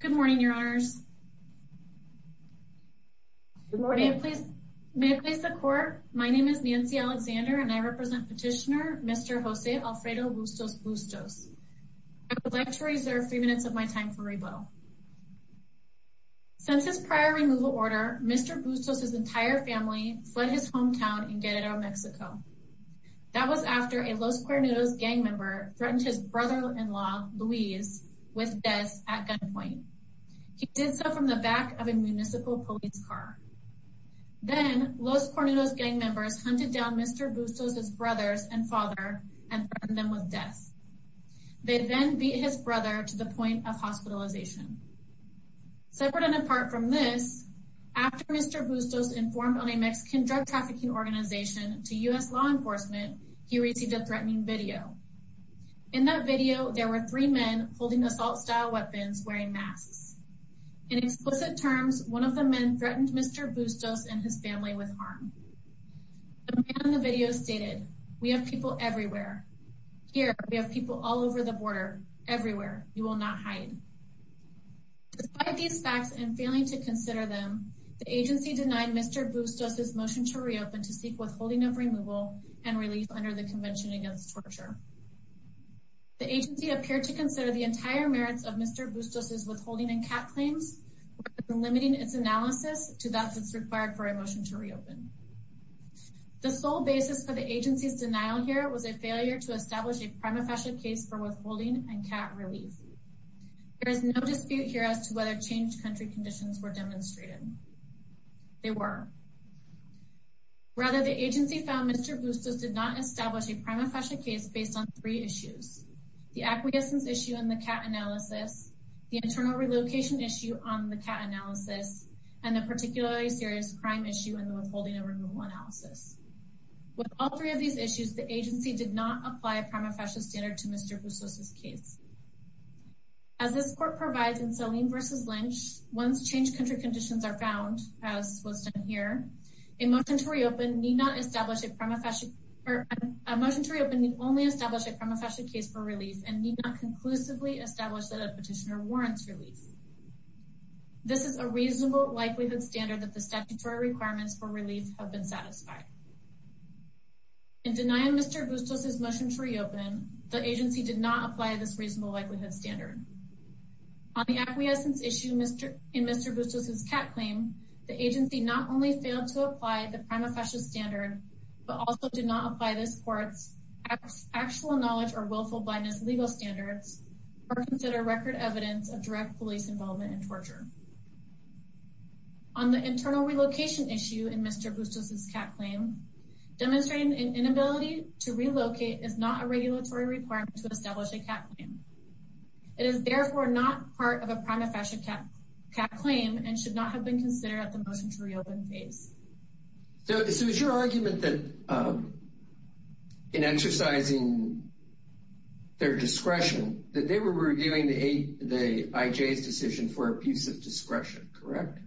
Good morning, your honors. Good morning. May it please the court, my name is Nancy Alexander and I represent petitioner Mr. Jose Alfredo Bustos-Bustos. I would like to reserve three minutes of my time for rebuttal. Since his prior removal order, Mr. Bustos' entire family fled his hometown in Guerrero, Mexico. That was after a Los Cuernos gang member threatened his brother-in-law, Luis, with death at gunpoint. He did so from the back of a municipal police car. Then Los Cuernos gang members hunted down Mr. Bustos' brothers and father and threatened them with death. They then beat his brother to the point of hospitalization. Separate and apart from this, after Mr. Bustos informed on a Mexican drug trafficking organization to U.S. law enforcement, he received a threatening video. In that video, there were three men holding assault-style weapons wearing masks. In explicit terms, one of the men threatened Mr. Bustos and his family with harm. The man in the video stated, we have people everywhere. Here, we have people all over the border, everywhere, you will not hide. Despite these facts and failing to consider them, the agency denied Mr. Bustos' motion to reopen to seek withholding of removal and relief under the Convention Against Torture. The agency appeared to consider the entire merits of Mr. Bustos' withholding and CAT claims, limiting its analysis to that that's required for a motion to reopen. The sole basis for the agency's denial here was a failure to establish a prima facie case for withholding and CAT relief. There is no dispute here as to whether changed country conditions were demonstrated. They were. Rather, the agency found Mr. Bustos did not establish a prima facie case based on three issues. The acquiescence issue in the CAT analysis, the internal relocation issue on the CAT analysis, and the particularly serious crime issue in the withholding and removal analysis. With all three of these issues, the agency did not apply a prima facie standard to Mr. Bustos' case. As this court provides in Selene v. Lynch, once changed country conditions are found, as was done here, a motion to reopen need not establish a prima facie or a motion to reopen need only establish a prima facie case for release and need not conclusively establish that a petitioner warrants relief. This is a reasonable likelihood standard that the statutory requirements for relief have been satisfied. In denying Mr. Bustos' motion to reopen, the agency did not apply this reasonable likelihood standard. On the acquiescence issue in Mr. Bustos' CAT claim, the agency not only failed to apply the prima facie standard, but also did not apply this court's actual knowledge or willful blindness legal standards or consider record evidence of direct police involvement in torture. On the internal relocation issue in Mr. Bustos' CAT claim, demonstrating an inability to relocate is not a regulatory requirement to establish a CAT claim. It is therefore not part of a CAT claim and should not have been considered at the motion to reopen phase. So it was your argument that in exercising their discretion that they were reviewing the IJ's decision for abusive discretion, correct?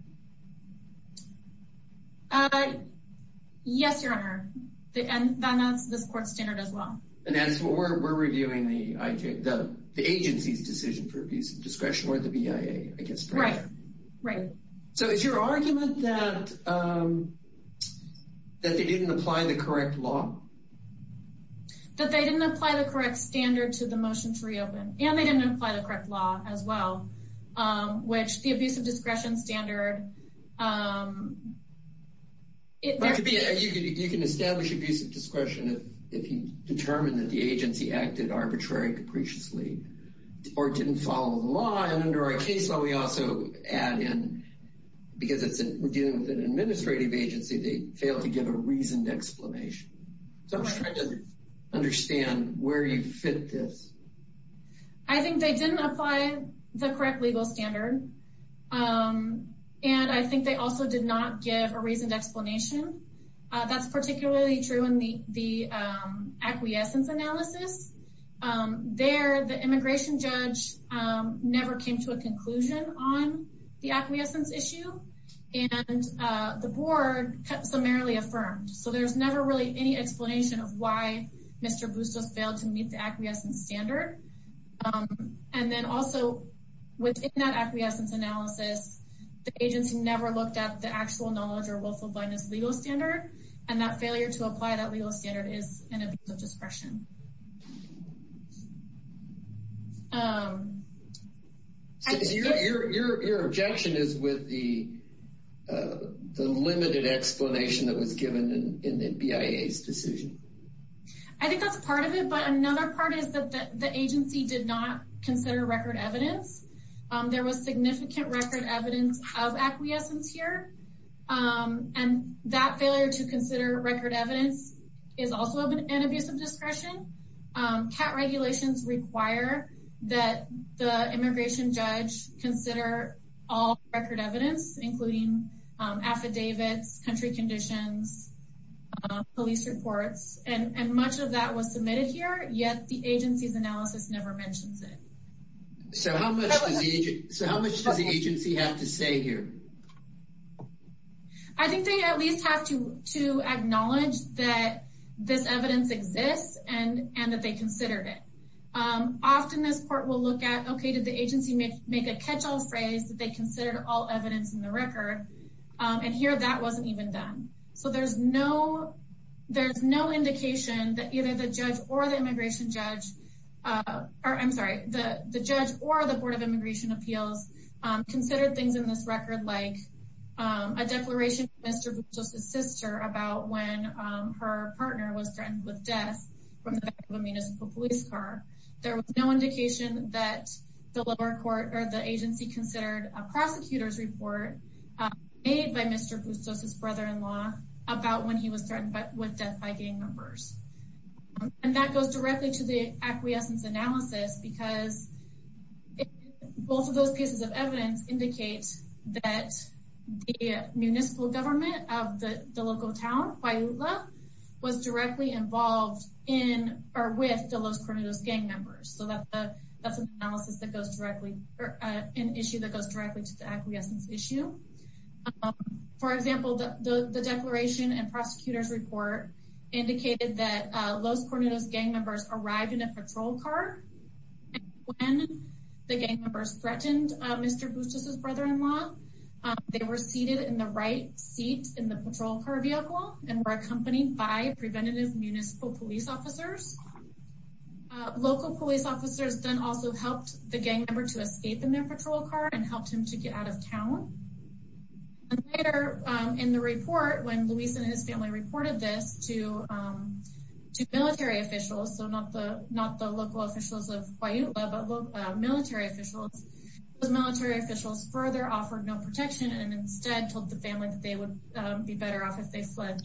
Yes, Your Honor, and that's this court's standard as well. And that's what we're reviewing, the agency's decision for abusive discretion or the BIA. Right, right. So it's your argument that they didn't apply the correct law? That they didn't apply the correct standard to the motion to reopen, and they didn't apply the correct law as well, which the abusive discretion standard... You can establish abusive discretion if you determine that the agency acted arbitrary, capriciously, or didn't follow the law. And under our case law, we also add in, because we're dealing with an administrative agency, they failed to give a reasoned explanation. So I'm just trying to understand where you fit this. I think they didn't apply the correct legal standard, and I think they also did not give a reasoned explanation. That's particularly true in the acquiescence analysis. There, the immigration judge never came to a conclusion on the acquiescence issue, and the board summarily affirmed. So there's never really any explanation of why Mr. Bustos failed to meet the acquiescence standard. And then also, within that acquiescence analysis, the agency never looked at the actual knowledge or willful blindness legal standard, and that failure to apply that legal standard is an abuse of discretion. Your objection is with the limited explanation that was given in the BIA's decision? I think that's part of it, but another part is that the agency did not consider record evidence. There was significant record evidence of acquiescence here, and that failure to consider record evidence is also an abuse of discretion. CAT regulations require that the immigration judge consider all record evidence, including affidavits, country conditions, police reports, and much of that was submitted here, yet the agency's analysis never mentions it. So how much does the agency have to say here? I think they at least have to acknowledge that this evidence exists and that they considered it. Often this court will look at, okay, did the agency make a catch-all phrase that they considered all evidence in the record, and here that wasn't even done. So there's no indication that either the judge or the immigration judge, or I'm sorry, the judge or the Board of Immigration Appeals considered things in this record like a declaration from Mr. Bustos' sister about when her partner was threatened with death from the back of a municipal police car. There was no indication that the agency considered a prosecutor's report made by Mr. Bustos' brother-in-law about when he was threatened with death by gang members. And that goes directly to the acquiescence analysis because both of those pieces of evidence indicate that the municipal government of the local town, Bayula, was directly involved in or with the Los Coronados gang members. So that's an analysis that goes directly, or an issue that goes directly to the acquiescence issue. For example, the declaration and prosecutor's report indicated that Los Coronados gang members arrived in a patrol car, and when the gang members threatened Mr. Bustos' brother-in-law, they were seated in the right seat in the patrol car vehicle and were accompanied by preventative municipal police officers. Local police officers then also helped the gang member escape in their patrol car and helped him to get out of town. And later in the report, when Luis and his family reported this to military officials, so not the local officials of Bayula, but military officials, those military officials further offered no protection and instead told the family that they would be better off if they fled.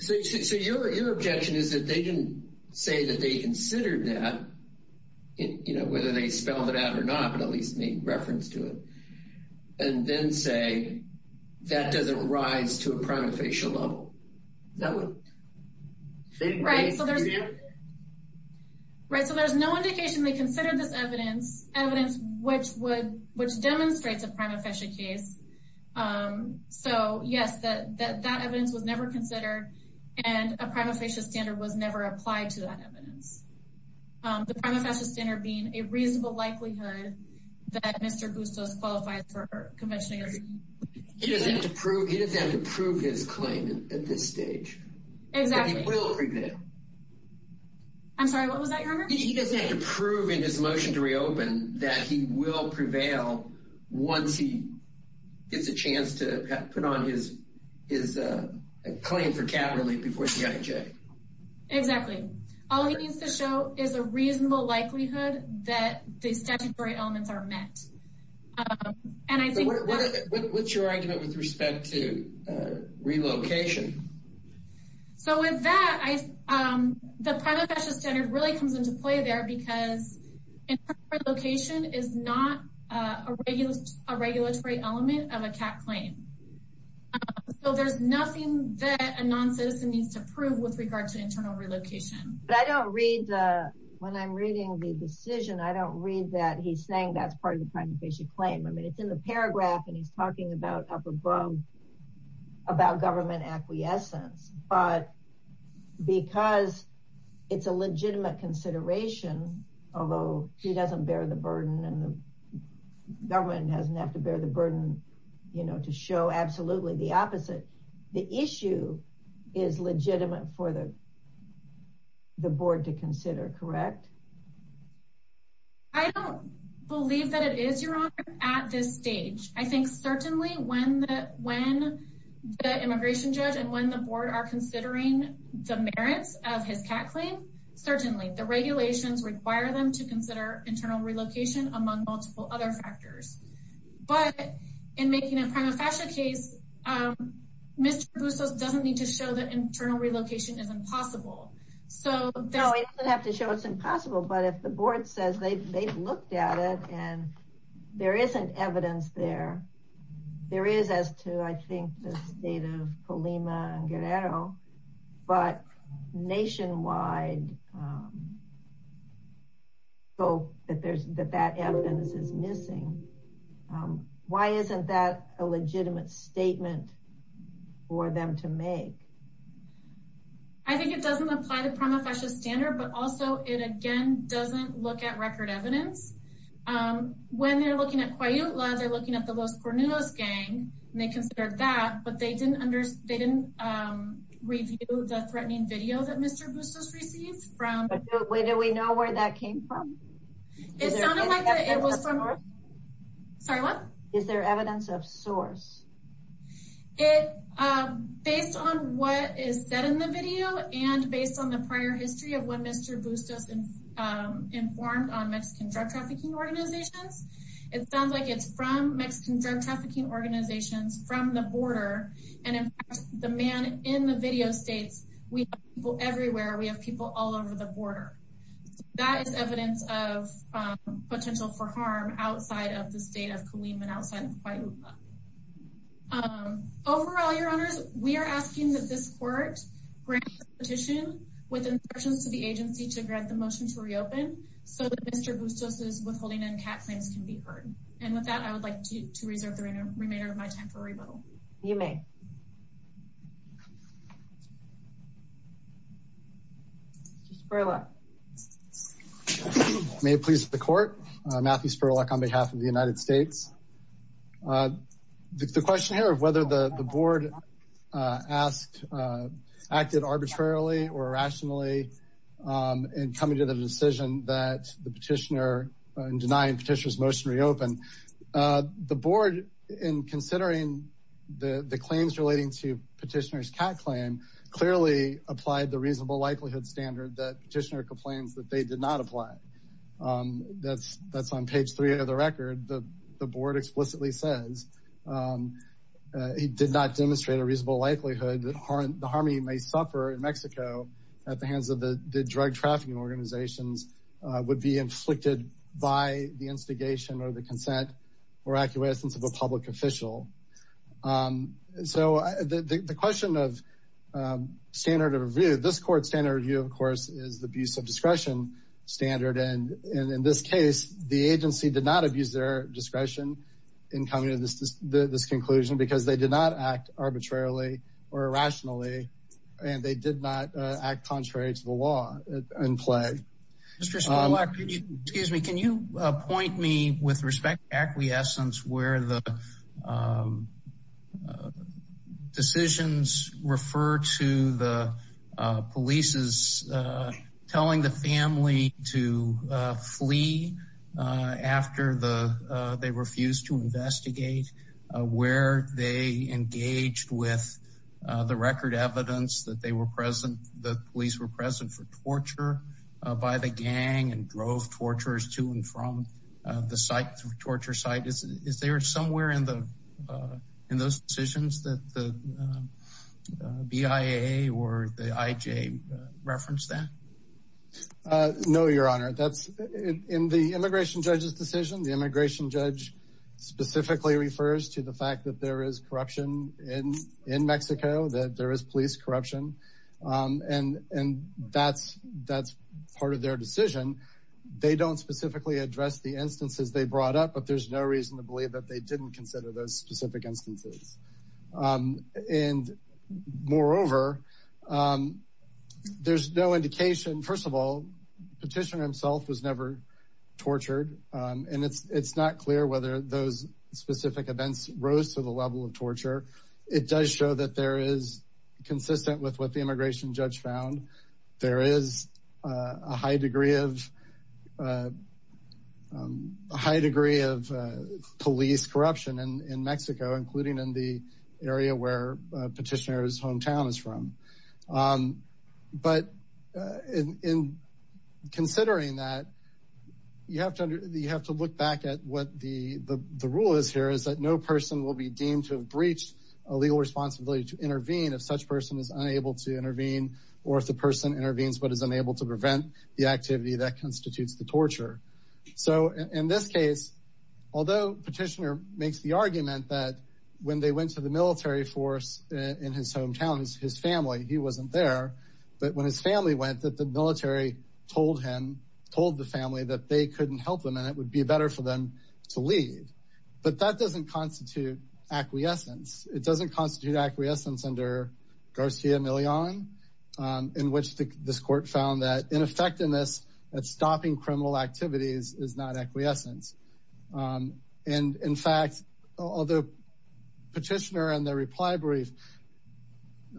So your objection is that they say that they considered that, you know, whether they spelled it out or not, but at least made reference to it, and then say that doesn't rise to a prima facie level. Is that what you think? Right, so there's no indication they considered this evidence, evidence which would, which demonstrates a prima facie case. So yes, that evidence was never considered and a prima facie standard was never applied to that evidence. The prima facie standard being a reasonable likelihood that Mr. Bustos qualifies for conventioning. He doesn't have to prove, he doesn't have to prove his claim at this stage. Exactly. That he will prevail. I'm sorry, what was that, Gerber? He doesn't have to prove in his motion to reopen that he will prevail once he gets a chance to put on his claim for cat relief before CIJ. Exactly. All he needs to show is a reasonable likelihood that the statutory elements are met. And I think... What's your argument with respect to relocation? So with that, the prima facie standard really comes into play there because internal relocation is not a regulatory element of a cat claim. So there's nothing that a non-citizen needs to prove with regard to internal relocation. But I don't read the, when I'm reading the decision, I don't read that he's saying that's part of the prima facie claim. I mean, it's in the paragraph and he's talking about up above about government acquiescence. But because it's a legitimate consideration, although he doesn't bear the burden and the government doesn't have to bear the burden, you know, to show absolutely the opposite. The issue is legitimate for the board to consider, correct? I don't believe that it is, Your Honor, at this stage. I think certainly when the immigration judge and when the board are considering the merits of his cat claim, certainly the regulations require them to consider internal relocation among multiple other factors. But in making a prima facie case, Mr. Boussos doesn't need to show that internal relocation is impossible. No, he doesn't have to show it's impossible. But if the board says they've looked at it and there isn't evidence there, there is as to, I think, the state of Colima and Guerrero, but nationwide that evidence is missing. Why isn't that a legitimate statement for them to make? I think it doesn't apply the prima facie standard, but also it, again, doesn't look at record evidence. When they're looking at Coyotla, they're looking at the Los Cornudos gang, and they considered that, but they didn't review the threatening video that Mr. Boussos received from- Do we know where that came from? It sounded like it was from- Sorry, what? Is there evidence of source? It, based on what is said in the video, and based on the prior history of when Mr. Boussos informed on Mexican drug trafficking organizations, it sounds like it's from Mexican drug trafficking organizations from the border. And in fact, the man in the video states, we have people everywhere, we have people all over the border. That is evidence of potential for harm outside of the country. Overall, your honors, we are asking that this court grant the petition with insertions to the agency to grant the motion to reopen so that Mr. Boussos' withholding NCAT claims can be heard. And with that, I would like to reserve the remainder of my time for rebuttal. You may. Spurlock. May it please the court. Matthew Spurlock on behalf of the United States. The question here of whether the board acted arbitrarily or irrationally in coming to the decision that the petitioner, in denying petitioner's motion to reopen. The board, in considering the claims relating to petitioner's NCAT claim, clearly applied the reasonable likelihood standard that petitioner complains that they did not apply. That's on page three of the word explicitly says, he did not demonstrate a reasonable likelihood that the harmony may suffer in Mexico at the hands of the drug trafficking organizations would be inflicted by the instigation or the consent or acquiescence of a public official. So the question of standard of review, this court standard review, of course, is the abuse of discretion standard. And in this case, the agency did not abuse their discretion in coming to this conclusion because they did not act arbitrarily or irrationally, and they did not act contrary to the law in play. Mr. Spurlock, excuse me, can you point me with respect to to flee after they refused to investigate where they engaged with the record evidence that they were present, the police were present for torture by the gang and drove torturers to and from the site, the torture site. Is there somewhere in those decisions that the BIA or the IJ referenced that? No, your honor, that's in the immigration judge's decision. The immigration judge specifically refers to the fact that there is corruption in in Mexico, that there is police corruption. And and that's that's part of their decision. They don't specifically address the instances they brought up, but there's no reason to believe that they didn't consider those specific instances. And moreover, there's no indication, first of all, petitioner himself was never tortured. And it's it's not clear whether those specific events rose to the level of torture. It does show that there is consistent with what the immigration judge found. There is a high degree of high degree of police corruption in Mexico, including in the area where petitioner's hometown is from. But in considering that, you have to you have to look back at what the the rule is here, is that no person will be deemed to have breached a legal responsibility to intervene if such person is unable to intervene or if the person intervenes but is unable to prevent the activity that constitutes the torture. So in this case, although petitioner makes the argument that when they went to the military force in his hometown, his family, he wasn't there. But when his family went, that the military told him, told the family that they couldn't help them and it would be better for them to leave. But that doesn't constitute acquiescence. It doesn't constitute acquiescence. It doesn't constitute acquiescence. And in fact, although petitioner and their reply brief,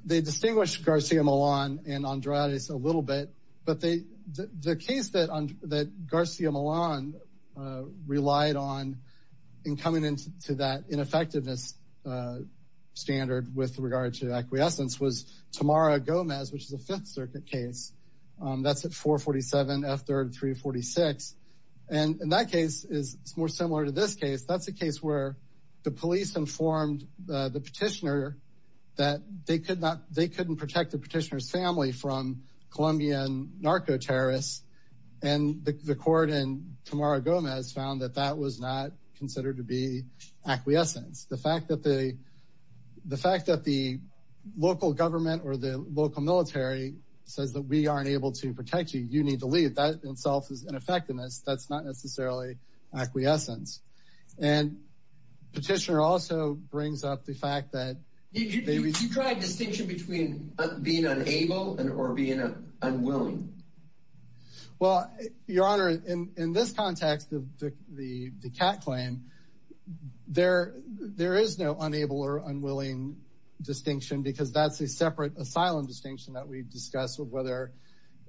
they distinguish Garcia Milan and Andrade's a little bit. But the case that Garcia Milan relied on in coming into that ineffectiveness standard with regard to acquiescence was Tamara Gomez, which is a Fifth Circuit case. That's at 447 F3rd 346. And in that case is more similar to this case. That's a case where the police informed the petitioner that they could not they couldn't protect the petitioner's family from Colombian narco terrorists. And the court and Tamara Gomez found that that was not considered to be acquiescence. The fact that they the fact that the local government or the local military says that we aren't able to protect you, you need to leave. That in itself is ineffectiveness. That's not necessarily acquiescence. And petitioner also brings up the fact that you drive distinction between being unable and or being unwilling. Well, your honor, in this context of the the cat claim, there there is no unable or unwilling distinction because that's a separate asylum distinction that we've discussed of whether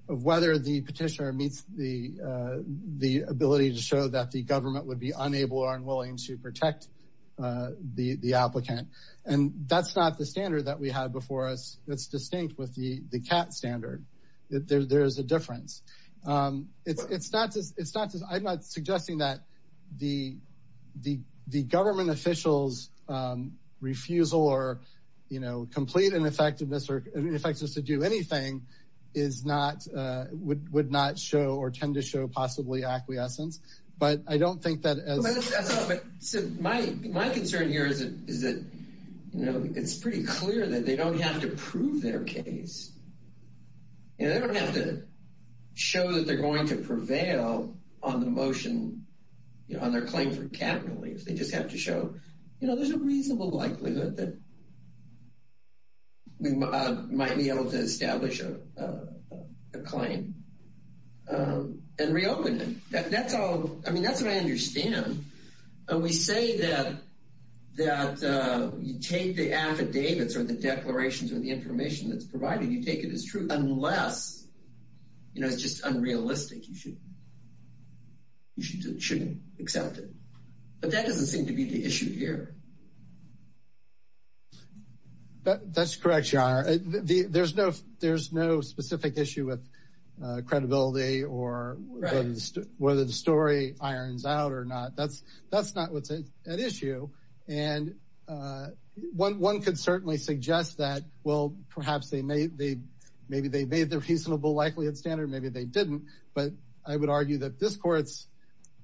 of whether the petitioner meets the the ability to show that the government would be unable or unwilling to protect the applicant. And that's not the standard that we had before us. That's a difference. It's it's not just it's not just I'm not suggesting that the the the government officials refusal or, you know, complete ineffectiveness or ineffectiveness to do anything is not would would not show or tend to show possibly acquiescence. But I don't think that my my concern here is is that, you know, it's pretty clear that they don't have to prove their case. You know, they don't have to show that they're going to prevail on the motion, you know, on their claim for capital. If they just have to show, you know, there's a reasonable likelihood that we might be able to establish a claim and reopen it. That's all. I mean, that's what I understand. And we say that that you take the affidavits or the declarations or the information that's provided, you take it as true unless, you know, it's just unrealistic. You should you shouldn't accept it. But that doesn't seem to be the issue here. That's correct, John. There's no there's no specific issue with credibility or whether the story irons out or not. That's that's not what's at issue. And one could certainly suggest that, well, perhaps they may they maybe they made the reasonable likelihood standard. Maybe they didn't. But I would argue that this court's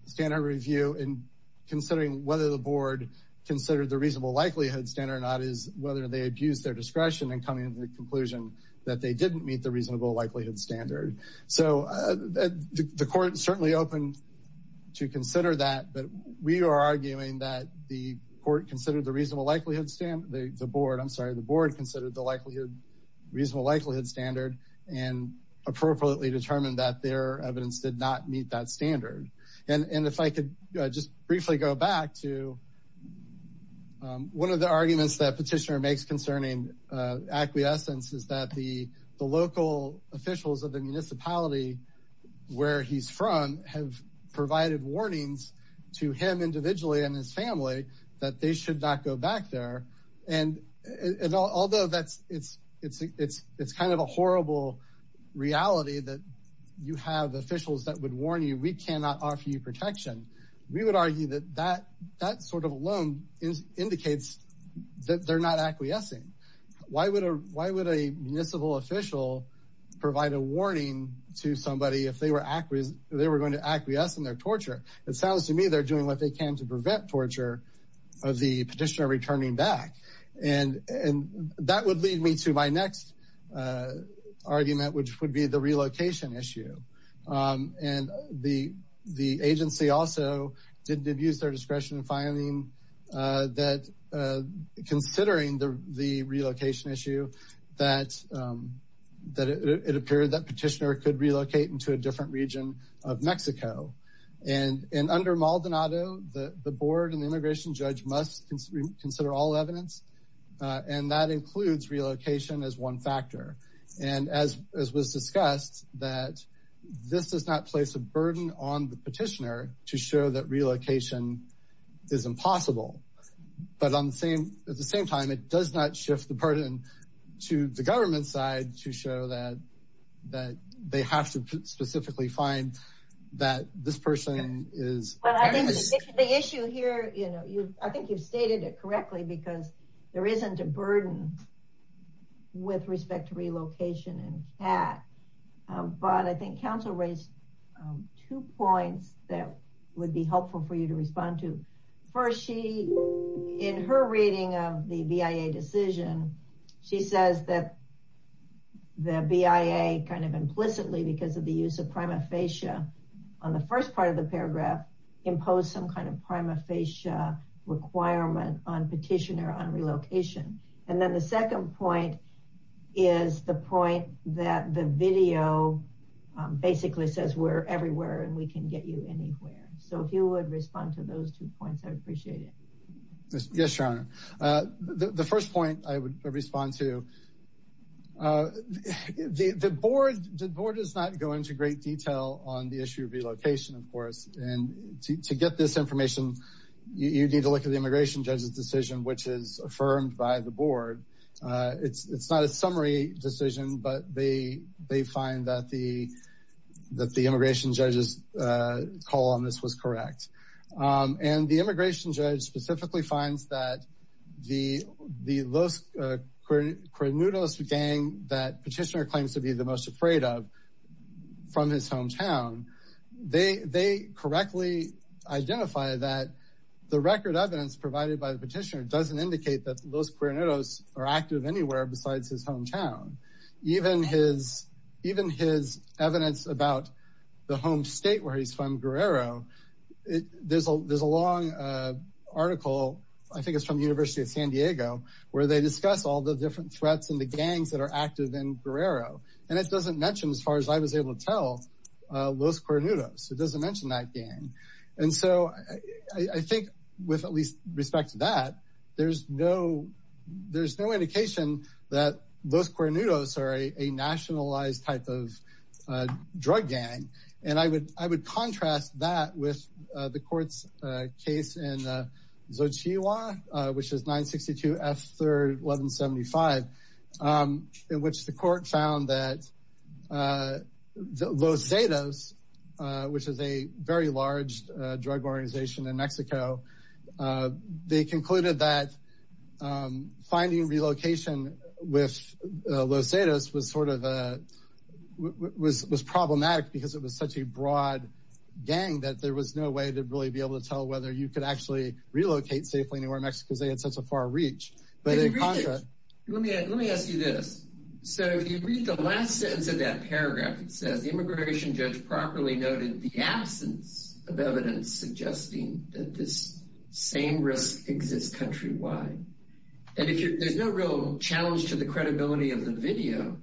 standard review in considering whether the board considered the reasonable likelihood standard or not is whether they abuse their discretion in coming to the conclusion that they didn't meet the reasonable likelihood standard. So the court is certainly open to consider that. But we are arguing that the court considered the likelihood standard, the board, I'm sorry, the board considered the likelihood reasonable likelihood standard and appropriately determined that their evidence did not meet that standard. And if I could just briefly go back to one of the arguments that petitioner makes concerning acquiescence is that the the local officials of the municipality where he's from have provided warnings to him individually and his family that they should not go back there. And although that's it's it's it's it's kind of a horrible reality that you have officials that would warn you, we cannot offer you protection. We would argue that that that sort of alone is indicates that they're not acquiescing. Why would a why would a municipal official provide a warning to somebody if they were acquiescing they were going to acquiesce in their torture? It sounds to me they're doing what they can to prevent torture of the petitioner returning back. And and that would lead me to my next argument which would be the relocation issue. And the the agency also didn't abuse their discretion in finding that considering the could relocate into a different region of Mexico. And and under Maldonado the the board and the immigration judge must consider all evidence and that includes relocation as one factor. And as as was discussed that this does not place a burden on the petitioner to show that relocation is impossible. But on the same at the same time it does not shift the burden to the government side to show that that they have to specifically find that this person is. The issue here you know you I think you've stated it correctly because there isn't a burden with respect to relocation in CAT. But I think council raised two points that would be helpful for you to respond to. First she in her reading of the BIA decision she says that the BIA kind of implicitly because of the use of prima facie on the first part of the paragraph imposed some kind of prima facie requirement on petitioner on relocation. And then the second point is the point that the video basically says we're everywhere and we can get you anywhere. So if you would respond to those two points I'd appreciate it. Yes your honor. The first point I would respond to the the board the board does not go into great detail on the issue of relocation of course. And to to get this information you need to look at the immigration judge's decision which is affirmed by the board. It's it's not a summary decision but they they find that the that the immigration judge's call on this was correct. And the immigration judge actually finds that the the Los Cuernudos gang that petitioner claims to be the most afraid of from his hometown they they correctly identify that the record evidence provided by the petitioner doesn't indicate that Los Cuernudos are active anywhere besides his hometown. Even his even his evidence about the home state where he's from Guerrero it there's a there's a long article I think it's from the University of San Diego where they discuss all the different threats and the gangs that are active in Guerrero. And it doesn't mention as far as I was able to tell Los Cuernudos it doesn't mention that gang. And so I I think with at least respect to that there's no there's no indication that Los Cuernudos are a a nationalized type of drug gang. And I would I would contrast that with the court's case in Xochitl which is 962 F 3rd 1175 in which the court found that Los Zetas which is a very large drug organization in Mexico uh they concluded that um finding relocation with Los Zetas was sort of a was was problematic because it was such a broad gang that there was no way to really be able to tell whether you could actually relocate safely anywhere in Mexico because they had such a far reach. But let me let me ask you this so if you read the last sentence of that paragraph it says the immigration judge properly noted the absence of evidence suggesting that this same risk exists countrywide. And if there's no real challenge to the credibility of the video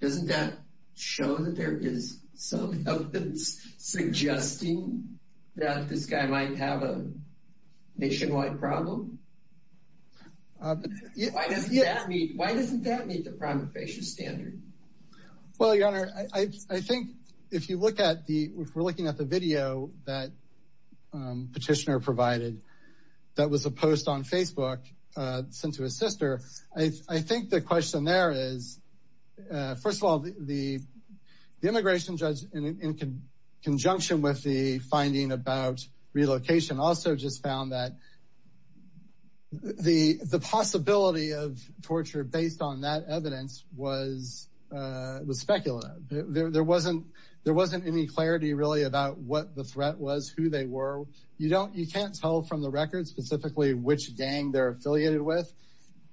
doesn't that show that there is some evidence suggesting that this guy might have a nationwide problem? Why doesn't that meet why doesn't that the prima facie standard? Well your honor I think if you look at the if we're looking at the video that petitioner provided that was a post on Facebook uh sent to his sister I think the question there is uh first of all the the immigration judge in conjunction with the evidence was uh it was speculative there wasn't there wasn't any clarity really about what the threat was who they were you don't you can't tell from the record specifically which gang they're affiliated with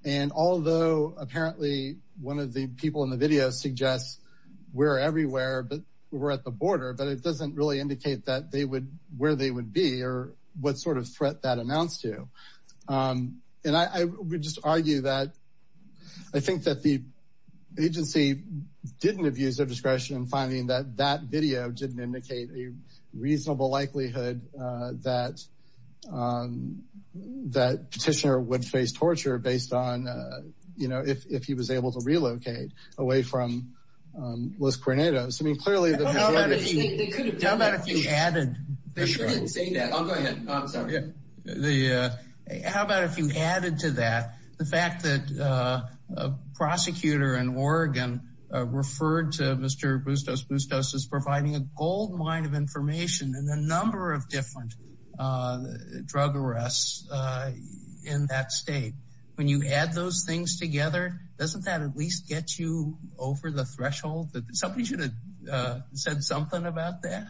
and although apparently one of the people in the video suggests we're everywhere but we're at the border but it doesn't really indicate that they would where they would be or what sort threat that announced to um and I would just argue that I think that the agency didn't abuse their discretion in finding that that video didn't indicate a reasonable likelihood uh that um that petitioner would face torture based on uh you know if if he was able to relocate away from um Los Granados I mean clearly how about if you added to that the fact that uh a prosecutor in Oregon uh referred to Mr. Bustos Bustos is providing a goldmine of information and a number of different uh drug arrests uh in that state when you add those things together doesn't that at least get you over the threshold that somebody should have uh said something about that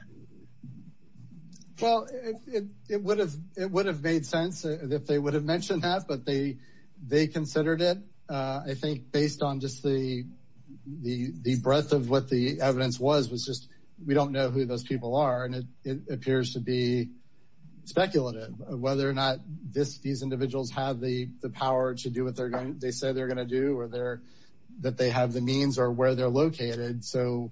well it it would have it would have made sense if they would have mentioned that but they they considered it uh I think based on just the the the breadth of what the evidence was was just we don't know who those people are and it it appears to be speculative whether or not this these individuals have the the power to do what they're going they say they're going to do or they're that they have the means or where they're located so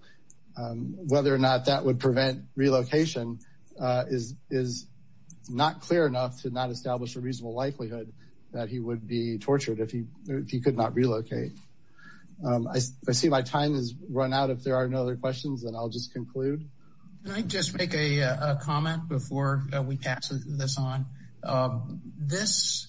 um whether or not that would prevent relocation uh is is not clear enough to not establish a reasonable likelihood that he would be tortured if he if he could not relocate I see my time has run out if there are no other questions and I'll just conclude can I just make a comment before we pass this on um this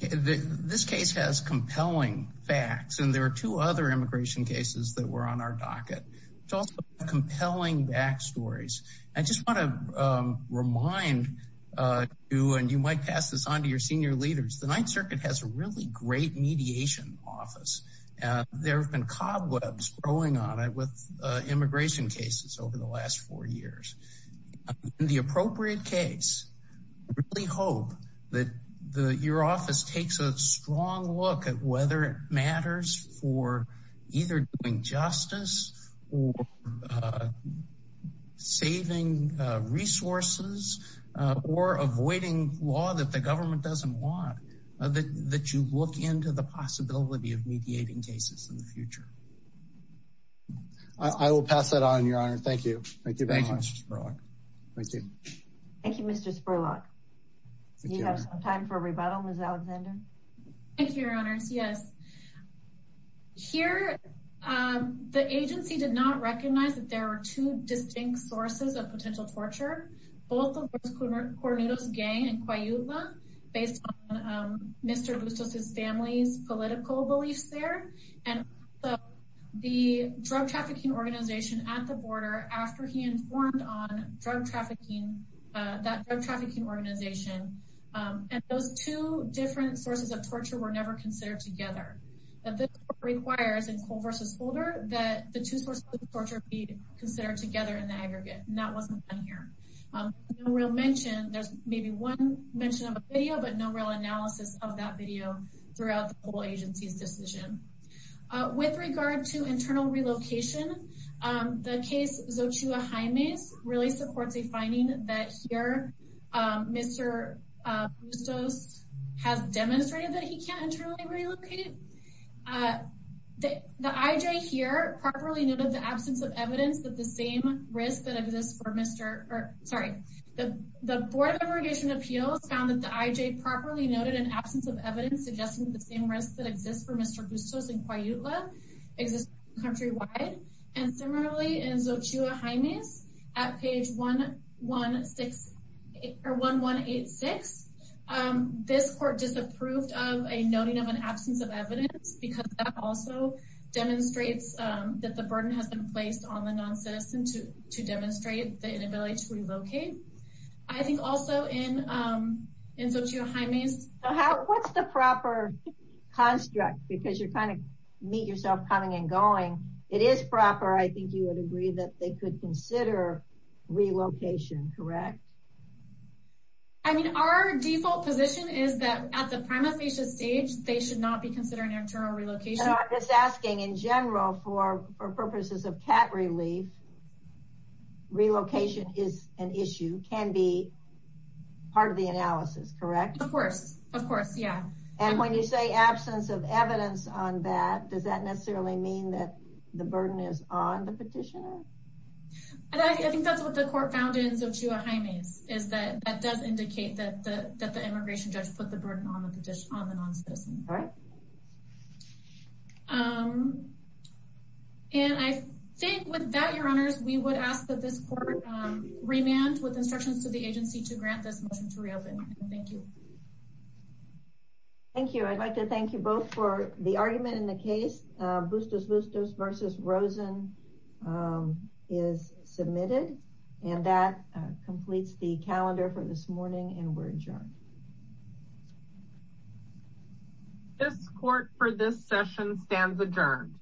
this case has compelling facts and there are two other immigration cases that were on our docket it's also compelling backstories I just want to um remind uh you and you might pass this on to your senior leaders the Ninth Circuit has a really great mediation office uh there have been cobwebs growing on it with uh immigration cases over the last four years in the appropriate case I really hope that the your office takes a strong look at whether it matters for either doing justice or uh saving uh resources or avoiding law that the government doesn't want that that you look into the possibility of mediating cases in the future I will pass that on your honor thank you thank you very much thank you thank you Mr. Spurlock you have some time for a rebuttal Ms. Alexander thank you your honors yes here um the agency did not recognize that there are two distinct sources of potential torture both of course Cornudos gang and Coyula based on um his family's political beliefs there and the drug trafficking organization at the border after he informed on drug trafficking uh that drug trafficking organization um and those two different sources of torture were never considered together that this requires in Cole versus Holder that the two sources of torture be considered together in the aggregate and that wasn't done here um no real mention there's maybe one mention of a video but no real analysis of that video throughout the whole agency's decision uh with regard to internal relocation um the case Xochitl Jaime's really supports a finding that here um Mr. Bustos has demonstrated that he can't internally relocate uh the the IJ here properly noted the absence of evidence that the same risk that exists for Mr. or sorry the the board of irrigation appeals found that the IJ properly noted an absence of evidence suggesting the same risk that exists for Mr. Bustos and Coyula exists countrywide and similarly in Xochitl Jaime's at page 116 or 1186 um this court disapproved of a noting of an absence of evidence because that also demonstrates um that the burden has been placed on the non-citizen to to demonstrate the inability to relocate I think also in um Xochitl Jaime's what's the proper construct because you're trying to meet yourself coming and going it is proper I think you would agree that they could consider relocation correct I mean our default position is that at the prima facie stage they should not be considering internal relocation I'm just asking in general for for purposes of cat relief relocation is an issue can be part of the analysis correct of course of course yeah and when you say absence of evidence on that does that necessarily mean that the burden is on the petitioner I think that's what the court found in Xochitl Jaime's is that that does indicate that the that the immigration judge put the burden on the petition all right um and I think with that your honors we would ask that this court remand with instructions to the agency to grant this motion to reopen thank you thank you I'd like to thank you both for the argument in the case Bustos Bustos versus Rosen is submitted and that completes the calendar for this morning and we're adjourned this court for this session stands adjourned